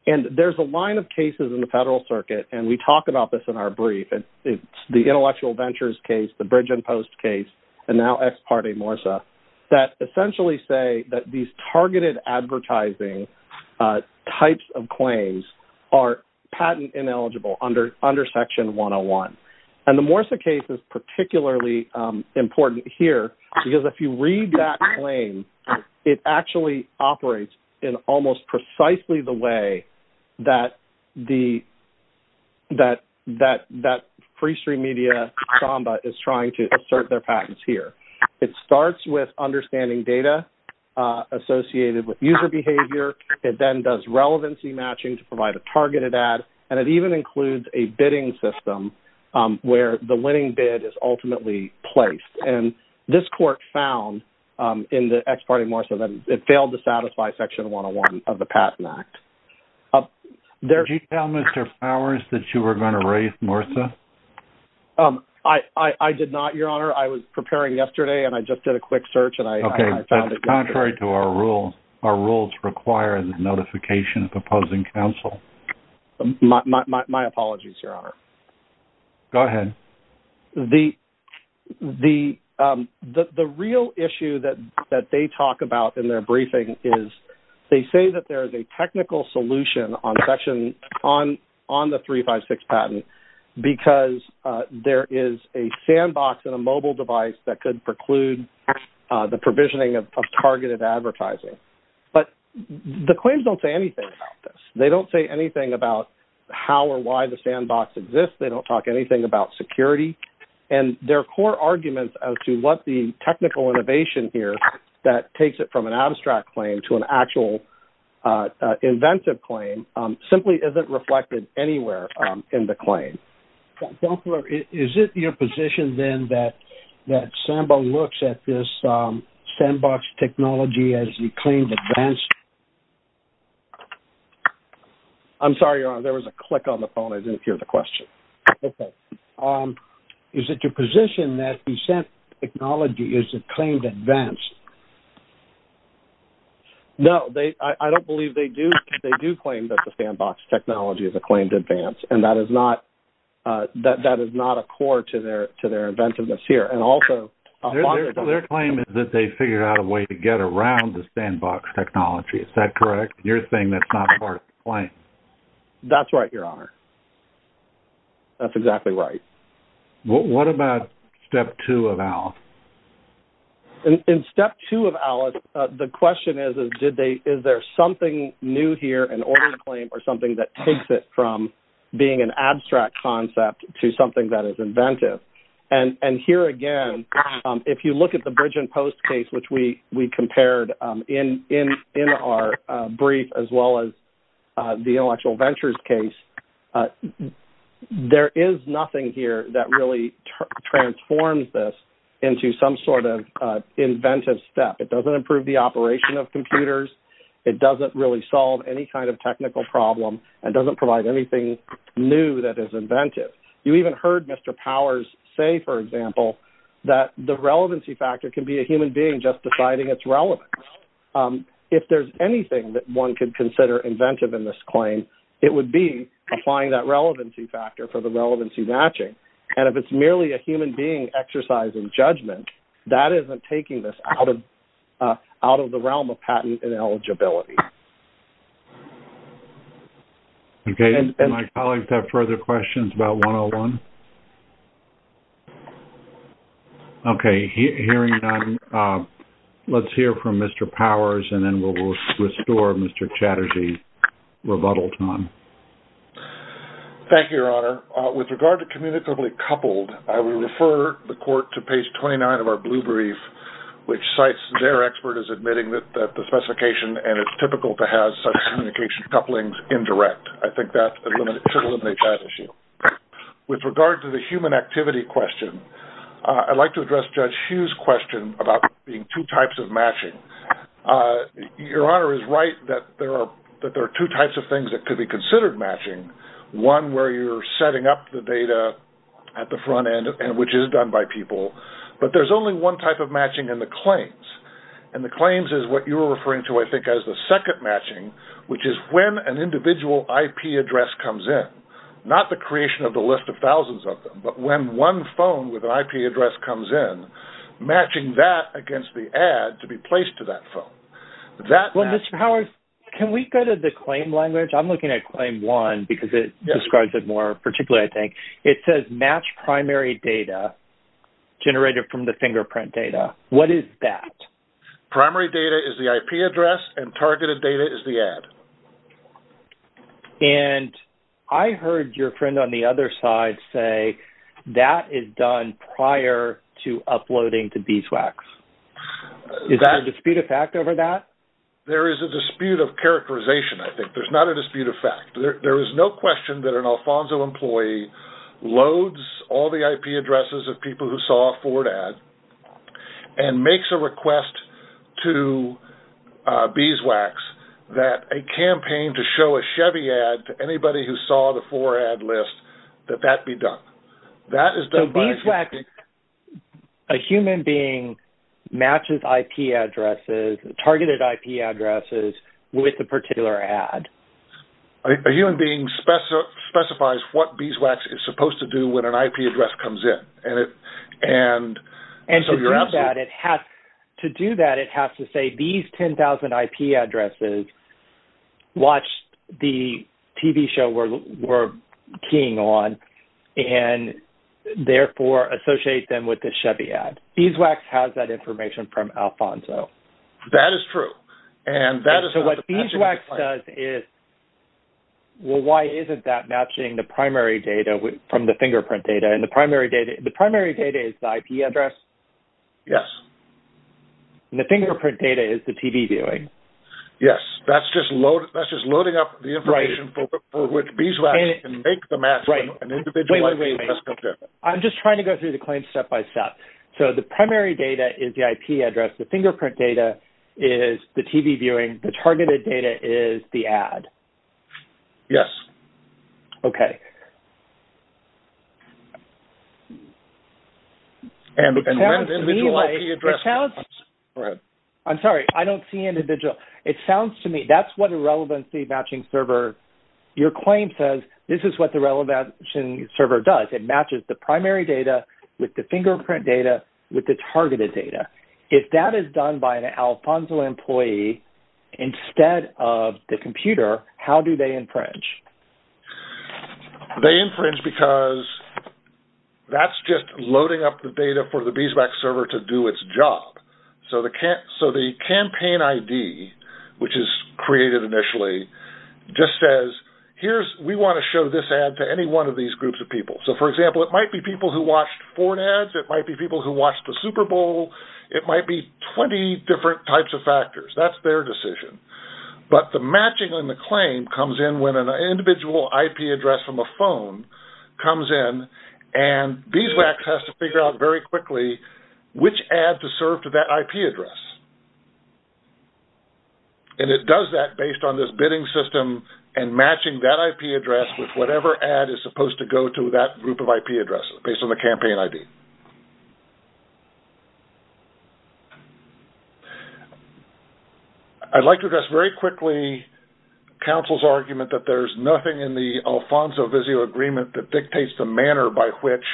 And there's a line of cases in the Federal Circuit, and we talk about this in our brief. It's the Intellectual Ventures case, the Bridge and Post case, and now Ex Parte Morsa that essentially say that these targeted advertising types of claims are patent ineligible under Section 101. And the Morsa case is particularly important here, because if you read that claim, it actually operates in almost precisely the way that free stream media Samba is trying to assert their patents here. It starts with understanding data associated with user behavior. It then does relevancy matching to provide a targeted ad, and it even includes a bidding system where the winning bid is ultimately placed. And this Court found in the Ex Parte Morsa that it failed to satisfy Section 101 of the Patent Act. Did you tell Mr. Fowers that you were going to raise Morsa? I did not, Your Honor. I was preparing yesterday, and I just did a quick search, and I found it. Okay, that's contrary to our rules. Our rules require the notification of opposing counsel. My apologies, Your Honor. Go ahead. The real issue that they talk about in their briefing is they say that there is a technical solution on the 356 patent, because there is a sandbox and a mobile device that could preclude the But the claims don't say anything about this. They don't say anything about how or why the sandbox exists. They don't talk anything about security. And their core arguments as to what the technical innovation here that takes it from an abstract claim to an actual inventive claim simply isn't reflected anywhere in the claim. Is it your position then that Samba looks at this sandbox technology as the claimed advanced? I'm sorry, Your Honor. There was a click on the phone. I didn't hear the question. Okay. Is it your position that Samba technology is a claimed advanced? No, I don't believe they do. They do claim that the sandbox technology is a claimed advanced, and that is not a core to their inventiveness here. Their claim is that they figured out a way to get around the sandbox technology. Is that correct? You're saying that's not part of the claim. That's right, Your Honor. That's exactly right. What about Step 2 of ALICE? In Step 2 of ALICE, the question is, is there something new here in order to claim or something that takes it from being an abstract concept to something that is inventive? Here again, if you look at the Bridge and Post case, which we compared in our brief as well as the Intellectual Ventures case, there is nothing here that really transforms this into some sort of inventive step. It doesn't improve the operation of computers. It doesn't really solve any kind of technical problem. It doesn't provide anything new that is inventive. You even heard Mr. Powers say, for example, that the relevancy factor can be a human being just deciding its relevance. If there's anything that one could consider inventive in this claim, it would be applying that relevancy factor for the relevancy matching. If it's merely a human being exercising judgment, that isn't taking this out of the realm of patent and eligibility. Okay. Do my colleagues have further questions about 101? Okay. Hearing none, let's hear from Mr. Powers, and then we'll restore Mr. Chatterjee's rebuttal time. Thank you, Your Honor. With regard to communicably coupled, I will refer the court to page 29 of our blue brief, which cites their expert as admitting that the specification and its application are typical to have such communication couplings indirect. I think that should eliminate that issue. With regard to the human activity question, I'd like to address Judge Hughes' question about there being two types of matching. Your Honor is right that there are two types of things that could be considered matching. One where you're setting up the data at the front end, and the claims is what you were referring to, I think, as the second matching, which is when an individual IP address comes in. Not the creation of the list of thousands of them, but when one phone with an IP address comes in, matching that against the ad to be placed to that phone. Well, Mr. Powers, can we go to the claim language? I'm looking at claim one because it describes it more particularly, I think. It says match primary data generated from the fingerprint data. What is that? Primary data is the IP address, and targeted data is the ad. And I heard your friend on the other side say that is done prior to uploading to BSWACs. Is that a dispute of fact over that? There is a dispute of characterization, I think. There's not a dispute of fact. There is no question that an Alfonso employee loads all the IP addresses of people who saw a Ford ad and makes a request to BSWACs that a campaign to show a Chevy ad to anybody who saw the Ford ad list, that that be done. So BSWACs, a human being matches IP addresses, targeted IP addresses with a particular ad. A human being specifies what BSWACs is supposed to do when an IP address comes in. To do that, it has to say these 10,000 IP addresses watched the TV show we're keying on and, therefore, associate them with the Chevy ad. BSWACs has that information from Alfonso. That is true. So what BSWACs does is, well, why isn't that matching the primary data from the fingerprint data? And the primary data is the IP address? Yes. And the fingerprint data is the TV viewing? Yes. That's just loading up the information for which BSWACs can make the match. Right. Wait, wait, wait. I'm just trying to go through the claims step by step. So the primary data is the IP address. The fingerprint data is the TV viewing. The targeted data is the ad? Yes. Okay. And when does the IP address come in? I'm sorry, I don't see individual. It sounds to me that's what a relevancy matching server, your claim says this is what the relevancy server does. It matches the primary data with the fingerprint data with the targeted data. If that is done by an Alfonso employee instead of the computer, how do they infringe? They infringe because that's just loading up the data for the BSWAC server to do its job. So the campaign ID, which is created initially, just says, we want to show this ad to any one of these groups of people. So, for example, it might be people who watched foreign ads. It might be people who watched the Super Bowl. It might be 20 different types of factors. That's their decision. But the matching on the claim comes in when an individual IP address from a phone comes in and BSWAC has to figure out very quickly which ad to serve to that IP address. And it does that based on this bidding system and matching that IP address with whatever ad is supposed to go to that group of IP addresses based on the campaign ID. I'd like to address very quickly counsel's argument that there's nothing in the Alfonso-Vizio agreement that dictates the manner by which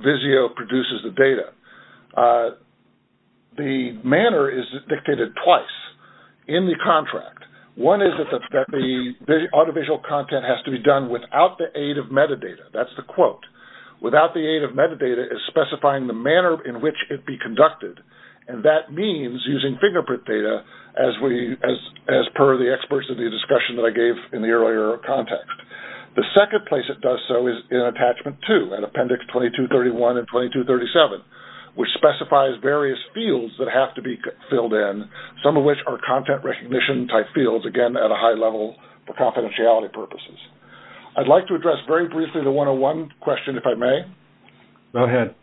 Vizio produces the data. The manner is dictated twice in the contract. One is that the audiovisual content has to be done without the aid of metadata. That's the quote. Without the aid of metadata is specifying the manner in which it be conducted. And that means using fingerprint data as per the experts of the discussion that I gave in the earlier context. The second place it does so is in attachment two, in appendix 2231 and 2237, which specifies various fields that have to be filled in, some of which are content recognition type fields, again, at a high level for confidentiality purposes. I'd like to address very briefly the 101 question, if I may. Go ahead.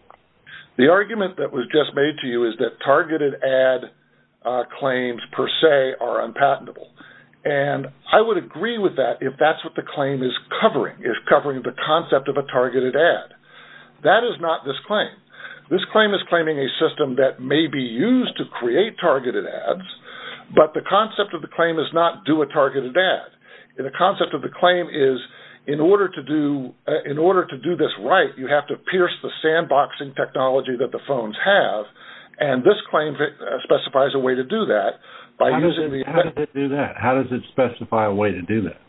The argument that was just made to you is that targeted ad claims per se are unpatentable. And I would agree with that if that's what the claim is covering, is covering the concept of a targeted ad. That is not this claim. This claim is claiming a system that may be used to create targeted ads, but the concept of the claim is not do a targeted ad. The concept of the claim is in order to do this right, you have to pierce the sandboxing technology that the phones have. And this claim specifies a way to do that. How does it do that? How does it specify a way to do that?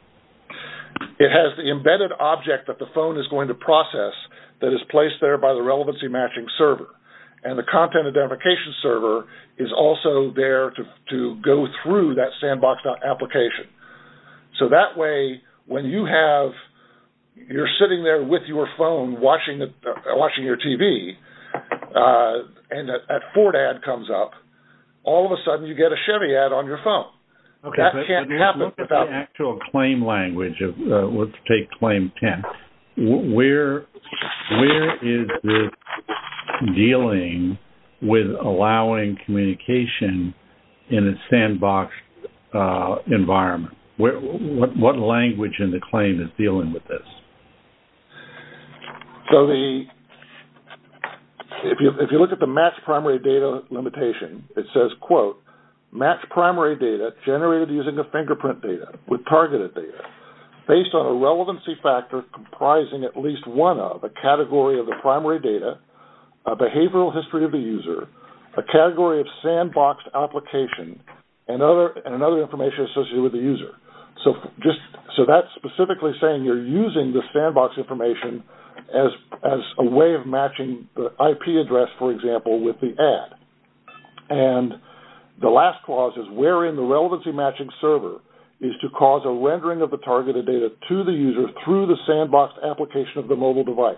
It has the embedded object that the phone is going to process that is placed there by the relevancy matching server. And the content identification server is also there to go through that sandbox application. So that way when you have you're sitting there with your phone watching your TV and a Ford ad comes up, all of a sudden you get a Chevy ad on your phone. That can't happen without. Let's take claim 10. Where is this dealing with allowing communication in a sandbox environment? What language in the claim is dealing with this? If you look at the matched primary data limitation, it says, quote, matched primary data generated using a fingerprint data with targeted data based on a relevancy factor comprising at least one of a category of the primary data, a behavioral history of the user, a category of sandboxed application, and another information associated with the user. So that's specifically saying you're using the sandbox information as a way of matching the IP address, for example, with the ad. And the last clause is wherein the relevancy matching server is to cause a rendering of the targeted data to the user through the sandbox application of the mobile device.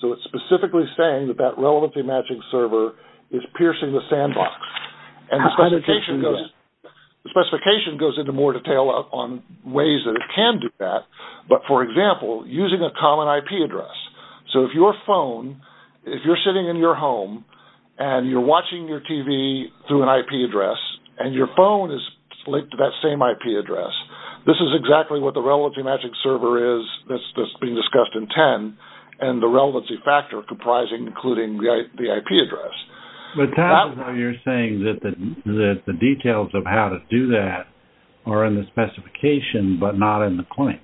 So it's specifically saying that that relevancy matching server is piercing the sandbox. And the specification goes into more detail on ways that it can do that. But, for example, using a common IP address. So if your phone, if you're sitting in your home and you're watching your TV through an IP address and your phone is linked to that same IP address, this is exactly what the relevancy matching server is that's being discussed in 10 and the relevancy factor comprising including the IP address. You're saying that the details of how to do that are in the specification but not in the claim.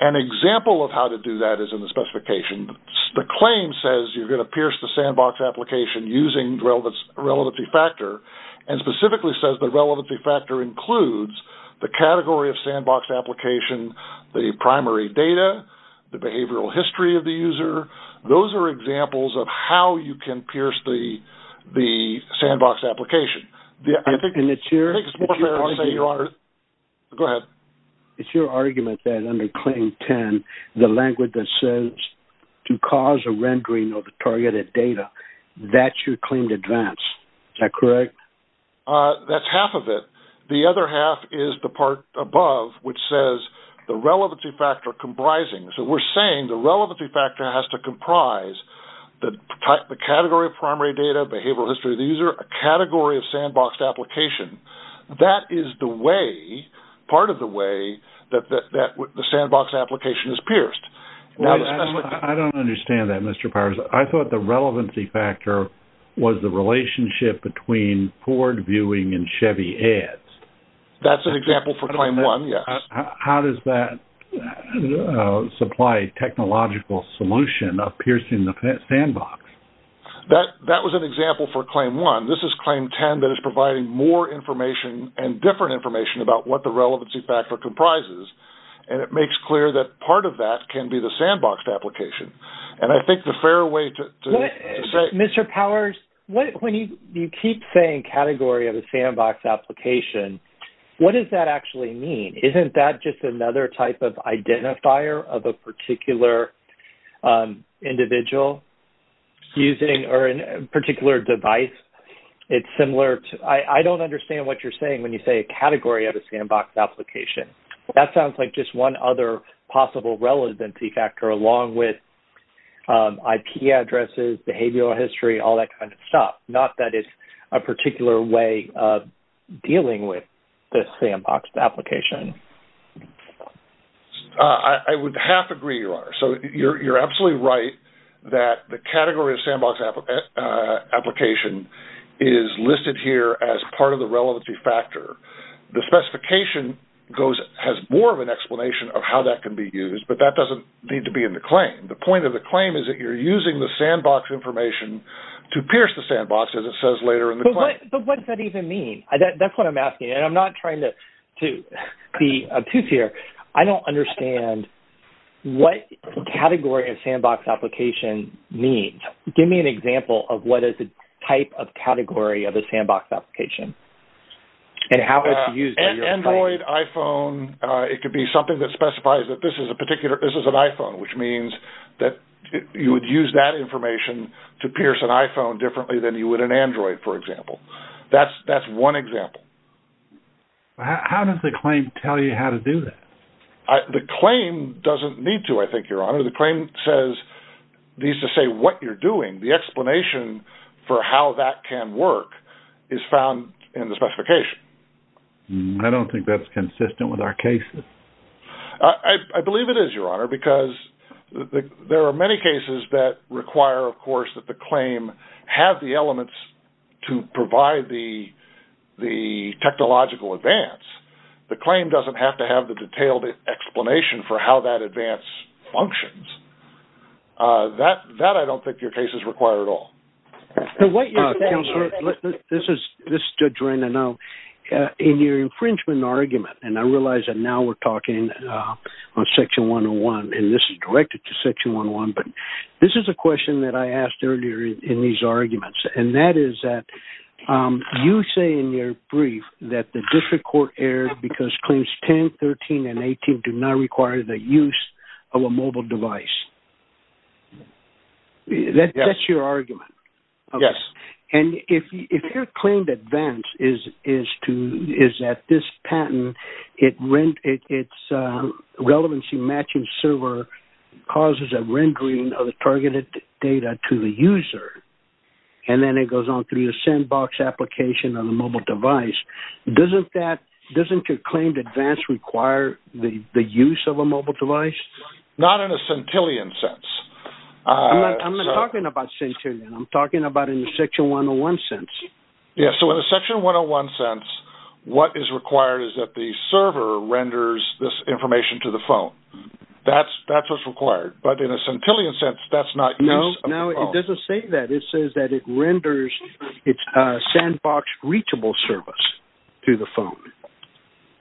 An example of how to do that is in the specification. The claim says you're going to pierce the sandbox application using the relevancy factor and specifically says the relevancy factor includes the category of sandboxed application, the primary data, the behavioral history of the user. Those are examples of how you can pierce the sandbox application. I think it's more fair to say, Your Honor. Go ahead. It's your argument that under claim 10, the language that says to cause a rendering of the targeted data, that's your claim to advance. Is that correct? That's half of it. The other half is the part above which says the relevancy factor comprising. We're saying the relevancy factor has to comprise the category of primary data, behavioral history of the user, a category of sandboxed application. That is part of the way that the sandbox application is pierced. I don't understand that, Mr. Powers. I thought the relevancy factor was the relationship between Ford viewing and Chevy ads. That's an example for claim one, yes. How does that supply technological solution of piercing the sandbox? That was an example for claim one. This is claim 10 that is providing more information and different information about what the relevancy factor comprises. And it makes clear that part of that can be the sandboxed application. And I think the fair way to say Mr. Powers, when you keep saying category of a sandbox application, what does that actually mean? Isn't that just another type of identifier of a particular individual using a particular device? It's similar to – I don't understand what you're saying when you say a category of a sandbox application. That sounds like just one other possible relevancy factor along with IP addresses, behavioral history, all that kind of stuff, not that it's a particular way of dealing with the sandboxed application. I would half agree, Your Honor. So you're absolutely right that the category of sandbox application is listed here as part of the relevancy factor. The specification has more of an explanation of how that can be used, but that doesn't need to be in the claim. The point of the claim is that you're using the sandbox information to sandbox, as it says later in the claim. But what does that even mean? That's what I'm asking, and I'm not trying to be obtuse here. I don't understand what category of sandbox application means. Give me an example of what is the type of category of a sandbox application and how it's used. Android, iPhone, it could be something that specifies that this is an iPhone, which means that you would use that information to pierce an iPhone differently than you would an Android, for example. That's one example. How does the claim tell you how to do that? The claim doesn't need to, I think, Your Honor. The claim says, needs to say what you're doing. The explanation for how that can work is found in the specification. I don't think that's consistent with our cases. I believe it is, Your Honor, because there are many cases that require, of course, that the claim have the elements to provide the technological advance. The claim doesn't have to have the detailed explanation for how that advance functions. That I don't think your case is required at all. Counselor, this is just to drain a note. In your infringement argument, and I realize that now we're talking on Section 101, and this is directed to Section 101, but this is a question that I asked earlier in these arguments, and that is that you say in your brief that the district court errors because Claims 10, 13, and 18 do not require the use of a mobile device. That's your argument. Yes. If your claimed advance is that this patent, its relevancy matching server causes a rendering of the targeted data to the user and then it goes on through the sandbox application on a mobile device, doesn't your claimed advance require the use of a mobile device? Not in a centillion sense. I'm not talking about centillion. I'm talking about in the Section 101 sense. Yes. So in the Section 101 sense, what is required is that the server renders this information to the phone. That's what's required. But in a centillion sense, that's not use of the phone. No, it doesn't say that. It says that it renders its sandbox reachable service to the phone.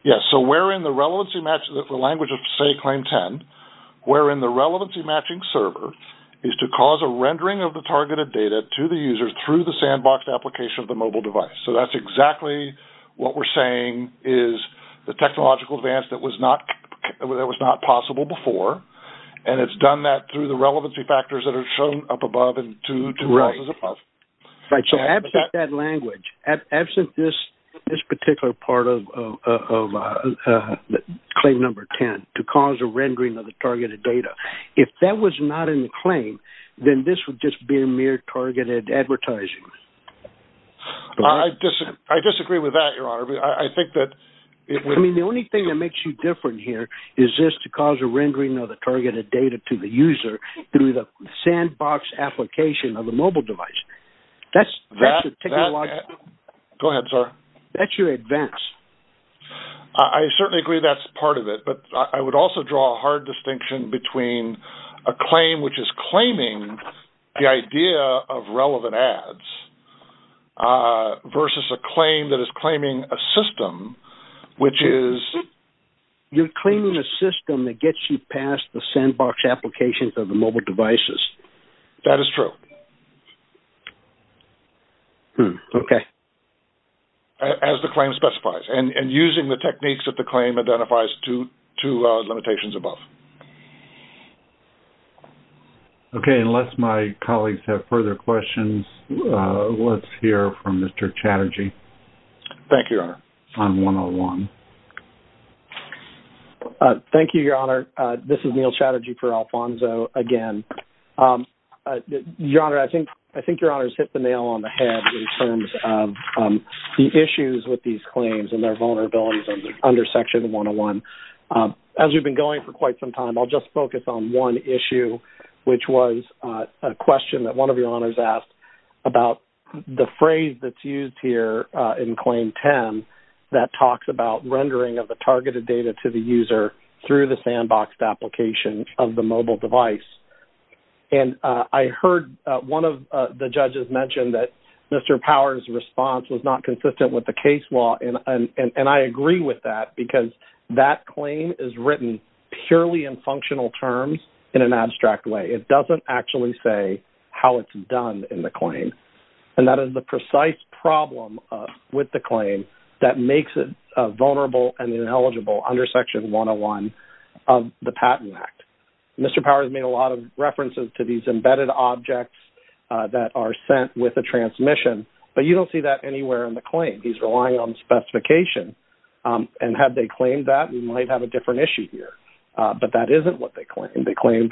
Yes. So where in the relevancy matching, the language of, say, Claim 10, where in the relevancy matching server is to cause a rendering of the targeted data to the user through the sandbox application of the mobile device. So that's exactly what we're saying is the technological advance that was not possible before, and it's done that through the relevancy factors that are shown up above and two clauses above. Right. So absent that language, absent this particular part of Claim Number 10, to cause a rendering of the targeted data. If that was not in the claim, then this would just be a mere targeted advertising. I disagree with that, Your Honor. I think that it would be. I mean, the only thing that makes you different here is this to cause a rendering of the targeted data to the user through the sandbox application of the mobile device. That's the technological. Go ahead, sir. That's your advance. I certainly agree that's part of it. But I would also draw a hard distinction between a claim which is claiming the idea of relevant ads versus a claim that is claiming a system, which is. You're claiming a system that gets you past the sandbox applications of the mobile devices. That is true. Okay. As the claim specifies. And using the techniques that the claim identifies to limitations above. Okay. Unless my colleagues have further questions, let's hear from Mr. Chatterjee. Thank you, Your Honor. On 101. Thank you, Your Honor. This is Neal Chatterjee for Alphonso again. Your Honor, I think Your Honor has hit the nail on the head in terms of the issues with these claims and their vulnerabilities under Section 101. As we've been going for quite some time, I'll just focus on one issue, which was a question that one of Your Honors asked about the phrase that's used here in Claim 10 that talks about rendering of the targeted data to the user through the sandboxed application of the mobile device. And I heard one of the judges mention that Mr. Power's response was not consistent with the case law. And I agree with that because that claim is written purely in functional terms in an abstract way. It doesn't actually say how it's done in the claim. And that is the precise problem with the claim that makes it vulnerable and ineligible under Section 101 of the Patent Act. Mr. Power has made a lot of references to these embedded objects that are sent with a transmission. But you don't see that anywhere in the claim. He's relying on specification. And had they claimed that, we might have a different issue here. But that isn't what they claimed. They claimed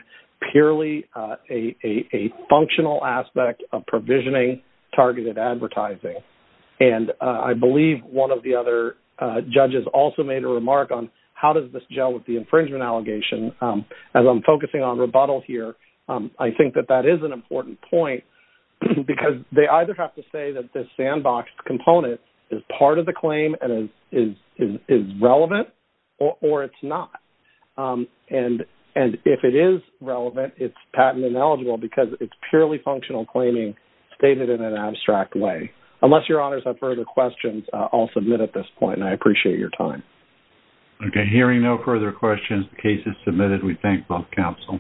purely a functional aspect of provisioning targeted advertising. And I believe one of the other judges also made a remark on how does this gel with the infringement allegation. As I'm focusing on rebuttal here, I think that that is an important point because they either have to say that this sandbox component is part of the claim and is relevant or it's not. And if it is relevant, it's patent ineligible because it's purely functional claiming stated in an abstract way. Unless your honors have further questions, I'll submit at this point. And I appreciate your time. Okay. Hearing no further questions, the case is submitted. We thank both counsel.